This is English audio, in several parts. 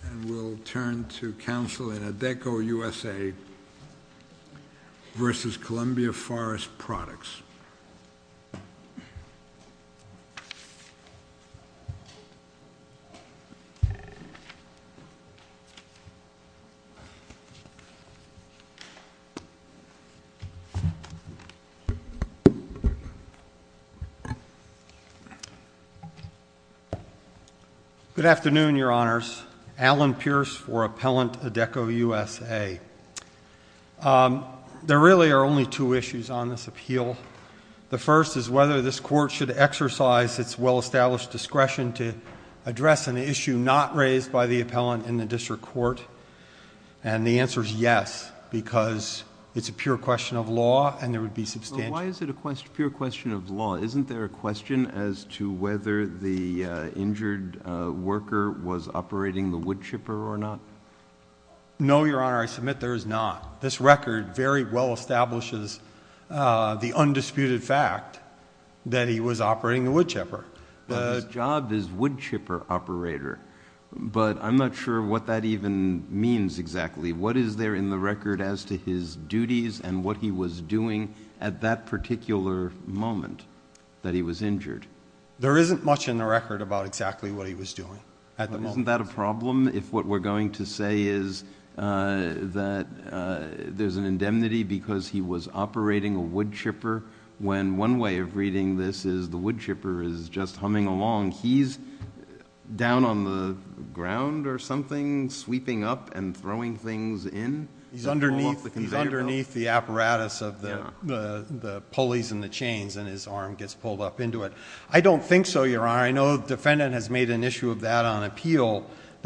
And we'll turn to counsel in Adecco USA v. Columbia Forest Products. Good afternoon, Your Honors. Alan Pierce for Appellant Adecco USA. There really are only two issues on this appeal. The first is whether this court should exercise its well-established discretion to address an issue not raised by the appellant in the district court. And the answer is yes, because it's a pure question of law, and there would be substantial— Why is it a pure question of law? Isn't there a question as to whether the injured worker was operating the wood chipper or not? No, Your Honor, I submit there is not. This record very well establishes the undisputed fact that he was operating the wood chipper. Now, his job is wood chipper operator, but I'm not sure what that even means exactly. What is there in the record as to his duties and what he was doing at that particular moment that he was injured? There isn't much in the record about exactly what he was doing at the moment. Wasn't that a problem, if what we're going to say is that there's an indemnity because he was operating a wood chipper, when one way of reading this is the wood chipper is just humming along. He's down on the ground or something, sweeping up and throwing things in. He's underneath the apparatus of the pulleys and the chains, and his arm gets pulled up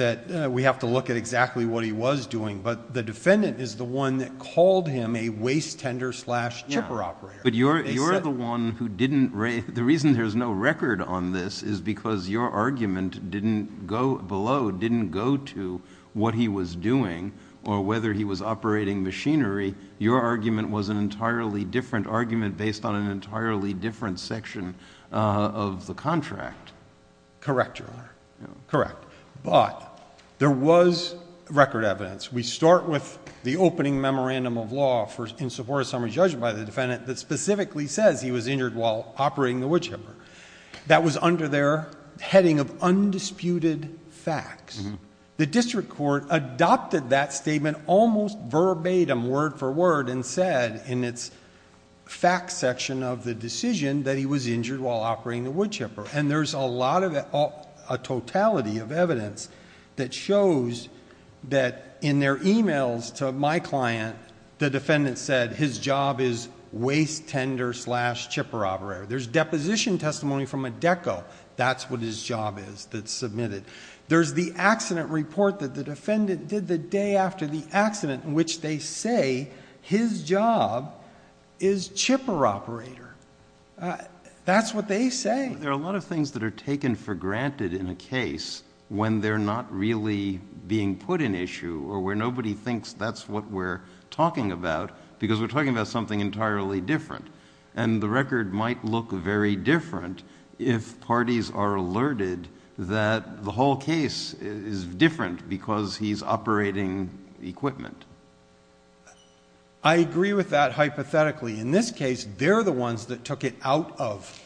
that we have to look at exactly what he was doing, but the defendant is the one that called him a waste tender slash chipper operator. You're the one who didn't... the reason there's no record on this is because your argument below didn't go to what he was doing or whether he was operating machinery. Your argument was an entirely different argument based on an entirely different section of the contract. Correct, Your Honor. Correct, but there was record evidence. We start with the opening memorandum of law in support of summary judgment by the defendant that specifically says he was injured while operating the wood chipper. That was under their heading of undisputed facts. The district court adopted that statement almost verbatim, word for word, and said in its facts section of the decision that he was injured while operating the wood chipper. There's a lot of... a totality of evidence that shows that in their emails to my client, the defendant said his job is waste tender slash chipper operator. There's deposition testimony from a DECO. That's what his job is that's submitted. There's the accident report that the defendant did the day after the accident in which they say his job is chipper operator. That's what they say. I think there are a lot of things that are taken for granted in a case when they're not really being put in issue or where nobody thinks that's what we're talking about because we're talking about something entirely different. The record might look very different if parties are alerted that the whole case is different because he's operating equipment. I agree with that hypothetically. In this case, they're the ones that took it out of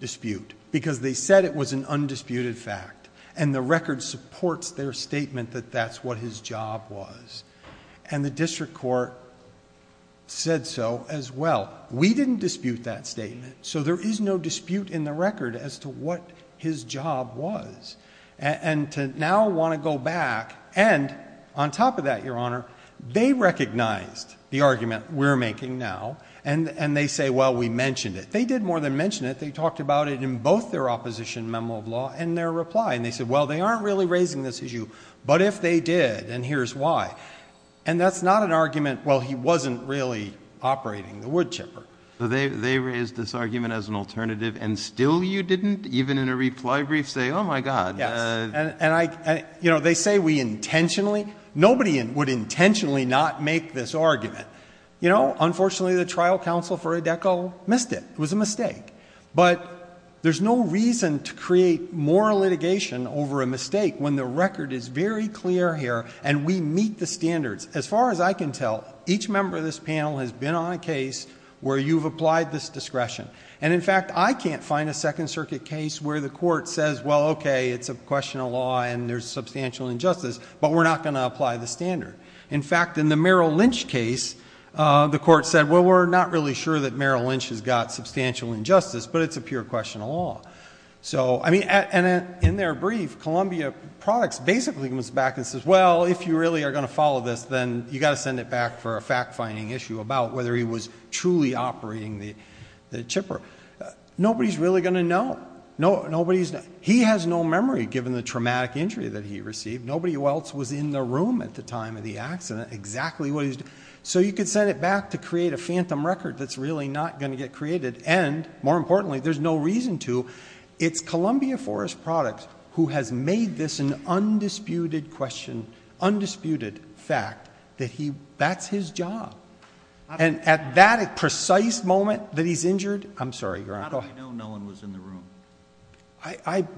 dispute because they said it was an undisputed fact and the record supports their statement that that's what his job was. The district court said so as well. We didn't dispute that statement so there is no dispute in the record as to what his job was. To now want to go back and on top of that, Your Honor, they recognized the argument we're making now and they say, well, we mentioned it. They did more than mention it. They talked about it in both their opposition memo of law and their reply and they said, well, they aren't really raising this issue but if they did and here's why. That's not an argument, well, he wasn't really operating the wood chipper. They raised this argument as an alternative and still you didn't even in a reply brief say oh, my God. They say we intentionally, nobody would intentionally not make this argument. Unfortunately, the trial counsel for Adecco missed it, it was a mistake but there's no reason to create more litigation over a mistake when the record is very clear here and we meet the standards. As far as I can tell, each member of this panel has been on a case where you've applied this discretion and in fact, I can't find a Second Circuit case where the court says, well, okay, it's a question of law and there's substantial injustice but we're not going to apply the standard. In fact, in the Merrill Lynch case, the court said, well, we're not really sure that Merrill Lynch has got substantial injustice but it's a pure question of law. In their brief, Columbia Products basically comes back and says, well, if you really are going to follow this then you got to send it back for a fact-finding issue about whether he was truly operating the chipper. Nobody's really going to know. He has no memory given the traumatic injury that he received. Nobody else was in the room at the time of the accident, exactly what he's doing. So you could send it back to create a phantom record that's really not going to get created and more importantly, there's no reason to. It's Columbia Forest Products who has made this an undisputed question, undisputed fact that that's his job. And at that precise moment that he's injured, I'm sorry, Your Honor. How do we know no one was in the room?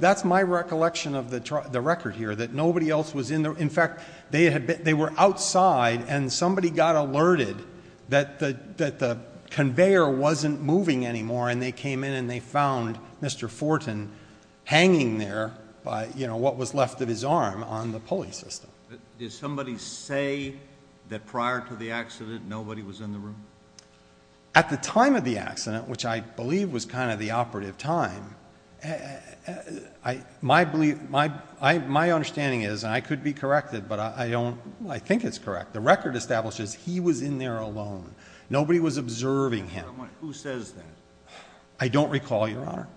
That's my recollection of the record here, that nobody else was in there. In fact, they were outside and somebody got alerted that the conveyor wasn't moving anymore and they came in and they found Mr. Fortin hanging there by, you know, what was left of his arm on the pulley system. Did somebody say that prior to the accident nobody was in the room? At the time of the accident, which I believe was kind of the operative time, my understanding is, and I could be corrected, but I don't, I think it's correct. The record establishes he was in there alone. Nobody was observing him. Who says that? I don't recall, Your Honor.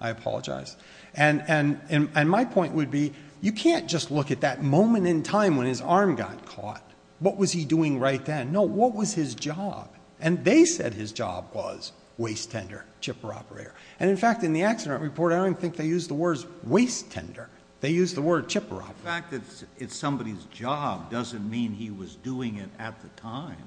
I apologize. And my point would be, you can't just look at that moment in time when his arm got caught. What was he doing right then? No. What was his job? And they said his job was waste tender, chipper operator. And in fact, in the accident report, I don't even think they used the words waste tender. They used the word chipper operator. The fact that it's somebody's job doesn't mean he was doing it at the time.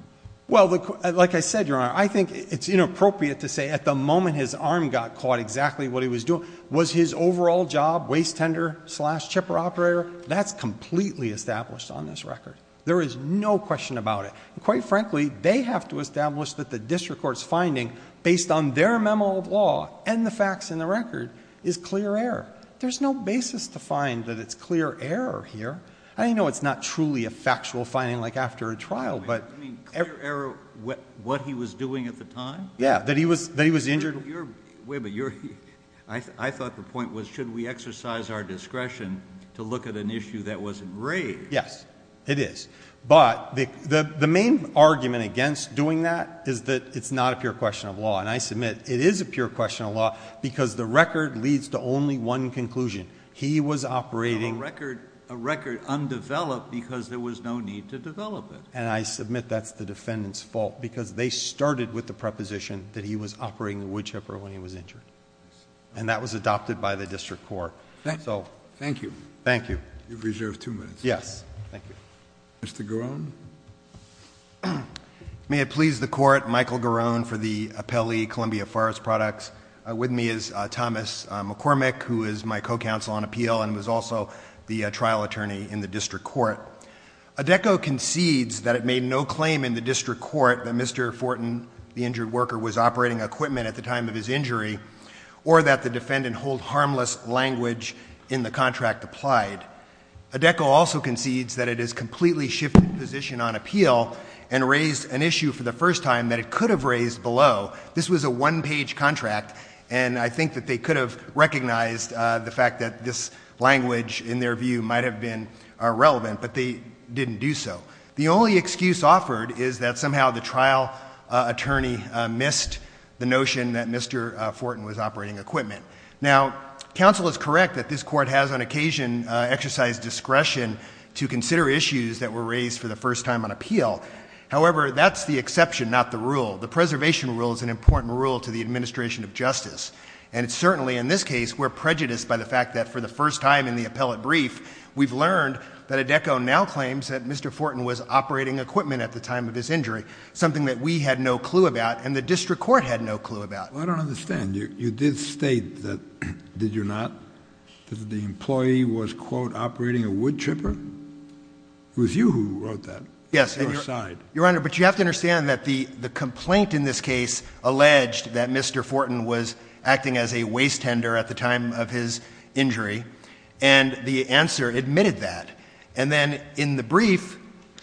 Well, like I said, Your Honor, I think it's inappropriate to say at the moment his arm got caught exactly what he was doing. Was his overall job waste tender slash chipper operator? That's completely established on this record. There is no question about it. And quite frankly, they have to establish that the district court's finding, based on their memo of law and the facts in the record, is clear error. There's no basis to find that it's clear error here. I know it's not truly a factual finding, like after a trial, but... I mean, clear error, what he was doing at the time? Yeah. That he was injured? Wait a minute. I thought the point was, should we exercise our discretion to look at an issue that was enraged? Yes. It is. But the main argument against doing that is that it's not a pure question of law. And I submit it is a pure question of law because the record leads to only one conclusion. He was operating... On a record undeveloped because there was no need to develop it. And I submit that's the defendant's fault because they started with the preposition that he was operating the wood chipper when he was injured. And that was adopted by the district court. So... Thank you. Thank you. You've reserved two minutes. Yes. Thank you. Mr. Garone? May it please the Court, Michael Garone for the Appellee Columbia Forest Products. With me is Thomas McCormick, who is my co-counsel on appeal and was also the trial attorney in the district court. ADECO concedes that it made no claim in the district court that Mr. Fortin, the injured worker, was operating equipment at the time of his injury, or that the defendant hold harmless language in the contract applied. ADECO also concedes that it has completely shifted position on appeal and raised an issue for the first time that it could have raised below. This was a one-page contract, and I think that they could have recognized the fact that this language, in their view, might have been irrelevant, but they didn't do so. The only excuse offered is that somehow the trial attorney missed the notion that Mr. Fortin was operating equipment. Now, counsel is correct that this court has on occasion exercised discretion to consider issues that were raised for the first time on appeal. However, that's the exception, not the rule. The preservation rule is an important rule to the administration of justice, and certainly in this case, we're prejudiced by the fact that for the first time in the appellate brief, we've learned that ADECO now claims that Mr. Fortin was operating equipment at the time of his injury, something that we had no clue about and the district court had no clue about. Well, I don't understand. You did state that, did you not, that the employee was, quote, operating a wood chipper? It was you who wrote that. Yes. Your side. Your Honor, but you have to understand that the complaint in this case alleged that Mr. Fortin was acting as a waste tender at the time of his injury, and the answer admitted that. And then in the brief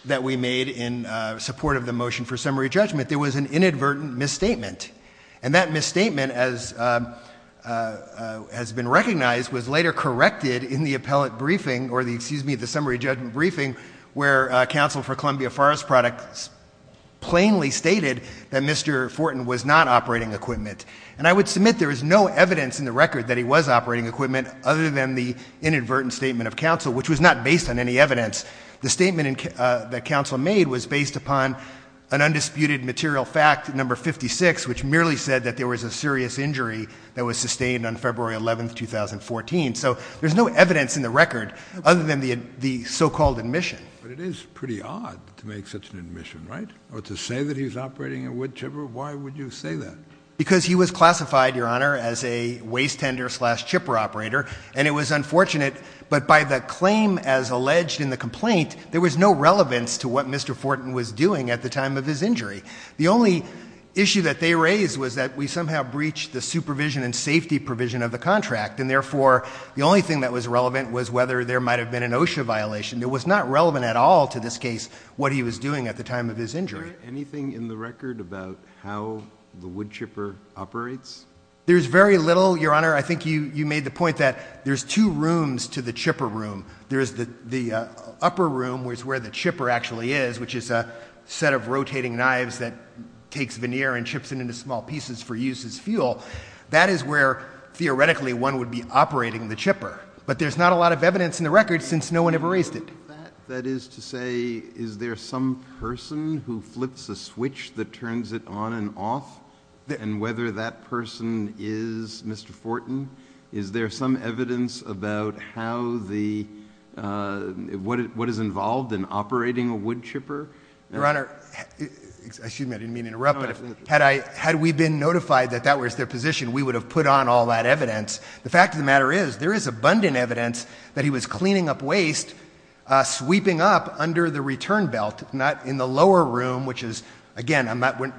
that we made in support of the motion for summary judgment, there was an inadvertent misstatement, and that misstatement, as has been recognized, was later corrected in the appellate briefing, or the, excuse me, the summary judgment briefing, where counsel for Columbia Forest Products plainly stated that Mr. Fortin was not operating equipment. And I would submit there is no evidence in the record that he was operating equipment other than the inadvertent statement of counsel, which was not based on any evidence. The statement that counsel made was based upon an undisputed material fact, number 56, which merely said that there was a serious injury that was sustained on February 11th, 2014. So, there's no evidence in the record other than the so-called admission. But it is pretty odd to make such an admission, right? Or to say that he's operating a wood chipper, why would you say that? Because he was classified, Your Honor, as a waste tender slash chipper operator, and it was unfortunate, but by the claim as alleged in the complaint, there was no relevance to what Mr. Fortin was doing at the time of his injury. The only issue that they raised was that we somehow breached the supervision and safety provision of the contract, and therefore, the only thing that was relevant was whether there might have been an OSHA violation. It was not relevant at all to this case, what he was doing at the time of his injury. Anything in the record about how the wood chipper operates? There's very little, Your Honor. I think you made the point that there's two rooms to the chipper room. There's the upper room, which is where the chipper actually is, which is a set of rotating knives that takes veneer and chips it into small pieces for use as fuel. That is where, theoretically, one would be operating the chipper. But there's not a lot of evidence in the record since no one ever raised it. That is to say, is there some person who flips a switch that turns it on and off? And whether that person is Mr. Fortin? Is there some evidence about what is involved in operating a wood chipper? Your Honor, excuse me, I didn't mean to interrupt, but had we been notified that that was their position, we would have put on all that evidence. The fact of the matter is, there is abundant evidence that he was cleaning up waste, sweeping up under the return belt, not in the lower room, which is, again,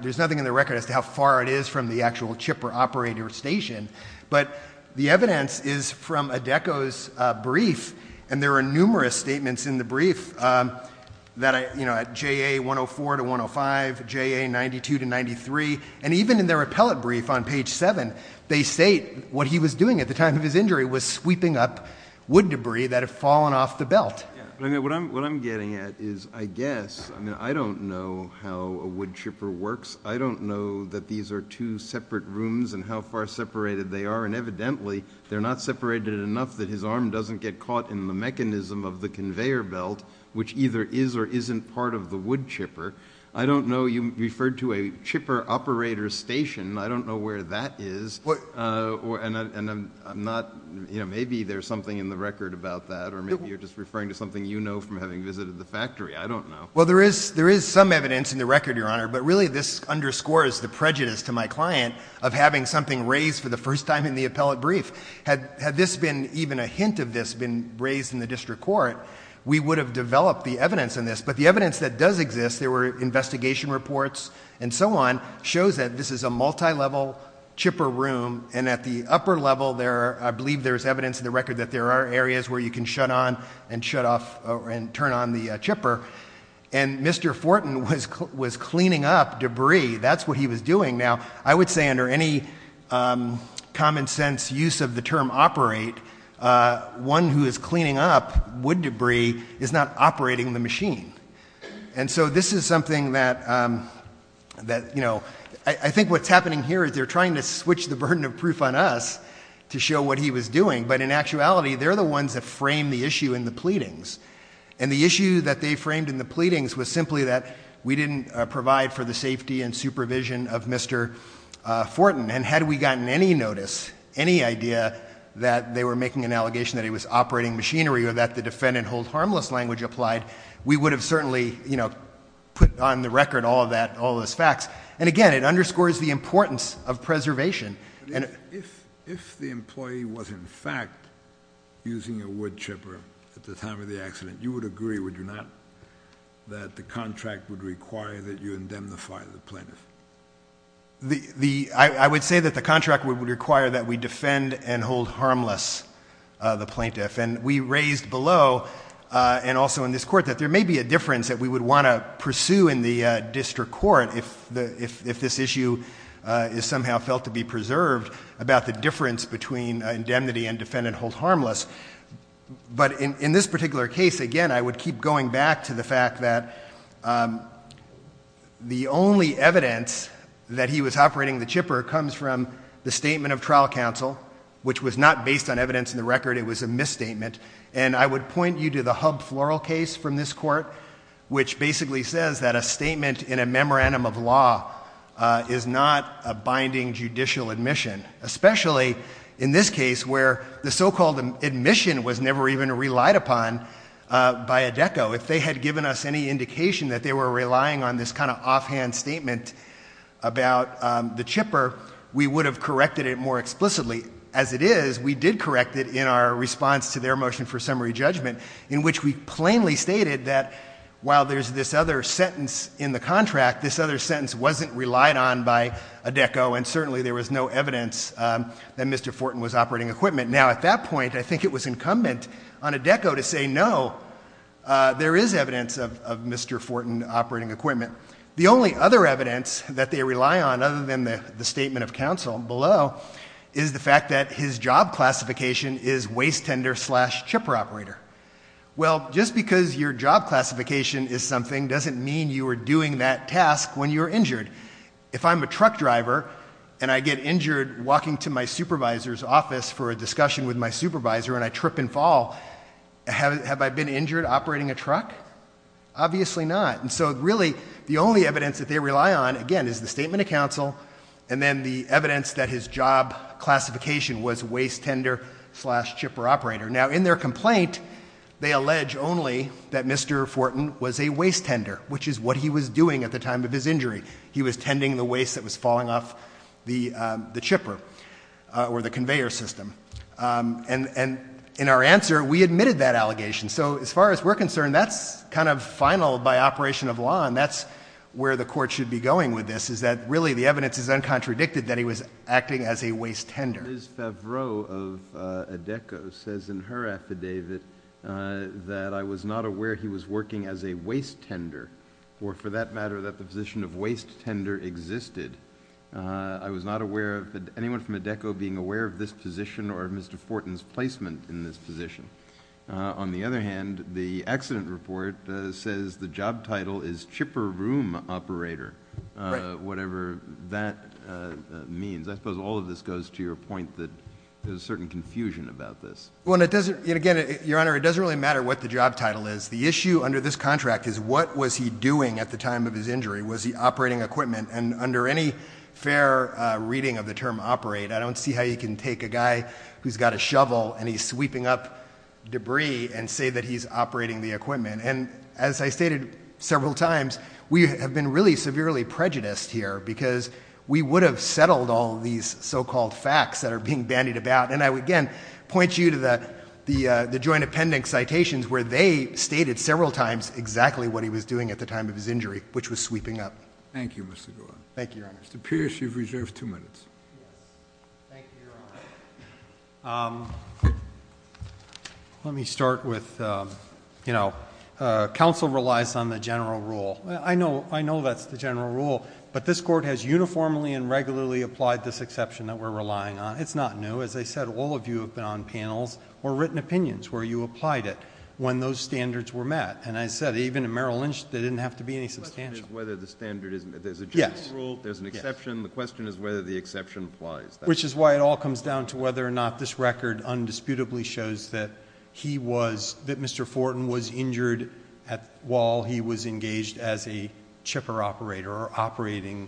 there's nothing in the record as to how far it is from the actual chipper operator station. But the evidence is from Adeko's brief, and there are numerous statements in the brief that JA 104 to 105, JA 92 to 93, and even in their appellate brief on page 7, they state what he was doing at the time of his injury was sweeping up wood debris that had fallen off the belt. What I'm getting at is, I guess, I don't know how a wood chipper works. I don't know that these are two separate rooms and how far separated they are. And evidently, they're not separated enough that his arm doesn't get caught in the mechanism of the conveyor belt, which either is or isn't part of the wood chipper. I don't know, you referred to a chipper operator station. I don't know where that is, and I'm not, maybe there's something in the record about that. Or maybe you're just referring to something you know from having visited the factory. I don't know. Well, there is some evidence in the record, Your Honor. But really, this underscores the prejudice to my client of having something raised for the first time in the appellate brief. Had this been, even a hint of this, been raised in the district court, we would have developed the evidence in this. But the evidence that does exist, there were investigation reports and so on, shows that this is a multi-level chipper room. And at the upper level, I believe there's evidence in the record that there are areas where you can shut on and shut off and turn on the chipper. And Mr. Fortin was cleaning up debris, that's what he was doing. Now, I would say under any common sense use of the term operate, one who is cleaning up wood debris is not operating the machine. And so this is something that, I think what's happening here is they're trying to switch the burden of proof on us to show what he was doing. But in actuality, they're the ones that frame the issue in the pleadings. And the issue that they framed in the pleadings was simply that we didn't provide for the safety and supervision of Mr. Fortin. And had we gotten any notice, any idea that they were making an allegation that he was operating machinery or that the defend and hold harmless language applied, we would have certainly put on the record all of those facts. And again, it underscores the importance of preservation. If the employee was, in fact, using a wood chipper at the time of the accident, you would agree, would you not, that the contract would require that you indemnify the plaintiff? I would say that the contract would require that we defend and hold harmless the plaintiff. And we raised below, and also in this court, that there may be a difference that we would want to pursue in the district court if this issue is somehow felt to be preserved about the difference between indemnity and defend and hold harmless. But in this particular case, again, I would keep going back to the fact that the only evidence that he was operating the chipper comes from the statement of trial counsel, which was not based on evidence in the record, it was a misstatement. And I would point you to the Hub Floral case from this court, which basically says that a statement in a memorandum of law is not a binding judicial admission. Especially in this case, where the so-called admission was never even relied upon by a DECO. If they had given us any indication that they were relying on this kind of offhand statement about the chipper, we would have corrected it more explicitly. As it is, we did correct it in our response to their motion for summary judgment, in which we plainly stated that while there's this other sentence in the contract, this other sentence wasn't relied on by a DECO, and certainly there was no evidence that Mr. Fortin was operating equipment. Now at that point, I think it was incumbent on a DECO to say no, there is evidence of Mr. Fortin operating equipment. The only other evidence that they rely on, other than the statement of counsel below, is the fact that his job classification is waste tender slash chipper operator. Well, just because your job classification is something doesn't mean you are doing that task when you're injured. If I'm a truck driver and I get injured walking to my supervisor's office for a discussion with my supervisor and I trip and fall, have I been injured operating a truck? Obviously not, and so really, the only evidence that they rely on, again, is the statement of counsel, and then the evidence that his job classification was waste tender slash chipper operator. Now in their complaint, they allege only that Mr. Fortin was a waste tender, which is what he was doing at the time of his injury. He was tending the waste that was falling off the chipper, or the conveyor system. And in our answer, we admitted that allegation. So as far as we're concerned, that's kind of final by operation of law, and that's where the court should be going with this, is that really the evidence is uncontradicted that he was acting as a waste tender. Ms. Favreau of ADECO says in her affidavit that I was not aware he was working as a waste tender, or for that matter, that the position of waste tender existed. I was not aware of anyone from ADECO being aware of this position or of Mr. Fortin's placement in this position. On the other hand, the accident report says the job title is chipper room operator, whatever that means. I suppose all of this goes to your point that there's a certain confusion about this. Well, and again, Your Honor, it doesn't really matter what the job title is. The issue under this contract is what was he doing at the time of his injury? Was he operating equipment? And under any fair reading of the term operate, I don't see how you can take a guy who's got a shovel and he's sweeping up debris and say that he's operating the equipment. And as I stated several times, we have been really severely prejudiced here, because we would have settled all these so-called facts that are being bandied about. And I would again point you to the joint appendix citations where they stated several times exactly what he was doing at the time of his injury, which was sweeping up. Thank you, Mr. Gore. Thank you, Your Honor. Mr. Pierce, you've reserved two minutes. Yes. Thank you, Your Honor. Let me start with counsel relies on the general rule. I know that's the general rule, but this court has uniformly and regularly applied this exception that we're relying on. It's not new. As I said, all of you have been on panels or written opinions where you applied it when those standards were met. And I said, even in Merrill Lynch, they didn't have to be any substantial. The question is whether the standard is, there's a general rule, there's an exception. The question is whether the exception applies. Which is why it all comes down to whether or not this record undisputably shows that he was, that Mr. Fortin was injured while he was engaged as a chipper operator or operating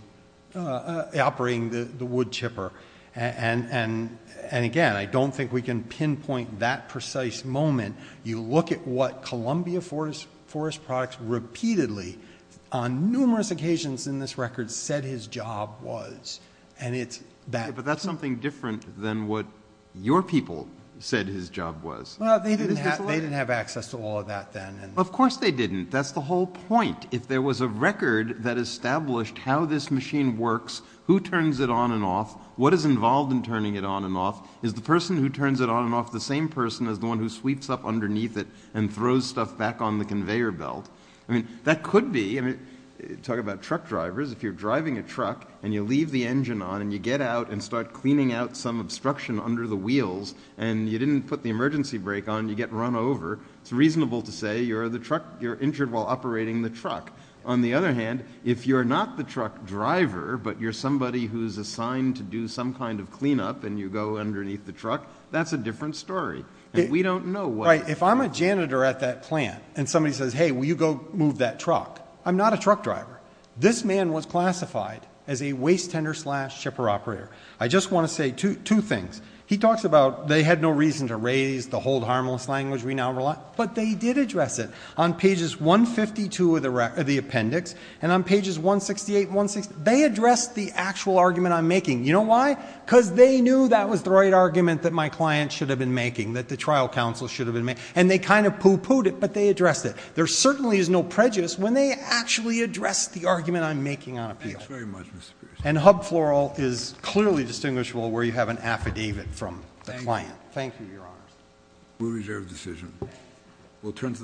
the wood chipper. And again, I don't think we can pinpoint that precise moment. You look at what Columbia Forest Products repeatedly, on numerous occasions in this record, said his job was. And it's that. But that's something different than what your people said his job was. Well, they didn't have access to all of that then. Of course they didn't. That's the whole point. If there was a record that established how this machine works, who turns it on and off, what is involved in turning it on and off, is the person who turns it on and off the same person as the one who sweeps up underneath it and throws stuff back on the conveyor belt? I mean, that could be, I mean, talk about truck drivers. If you're driving a truck and you leave the engine on and you get out and start cleaning out some obstruction under the wheels and you didn't put the emergency brake on, you get run over. It's reasonable to say you're injured while operating the truck. On the other hand, if you're not the truck driver, but you're somebody who's assigned to do some kind of cleanup and you go underneath the truck, that's a different story, and we don't know what- Right, if I'm a janitor at that plant and somebody says, hey, will you go move that truck? I'm not a truck driver. This man was classified as a waste tender slash shipper operator. I just want to say two things. He talks about they had no reason to raise the hold harmless language we now rely, but they did address it. On pages 152 of the appendix and on pages 168 and 169, they addressed the actual argument I'm making. You know why? because they knew that was the right argument that my client should have been making, that the trial counsel should have been making. And they kind of poo-pooed it, but they addressed it. There certainly is no prejudice when they actually address the argument I'm making on appeal. Thanks very much, Mr. Pierce. And hub floral is clearly distinguishable where you have an affidavit from the client. Thank you, your honor. We reserve the decision. We'll turn to.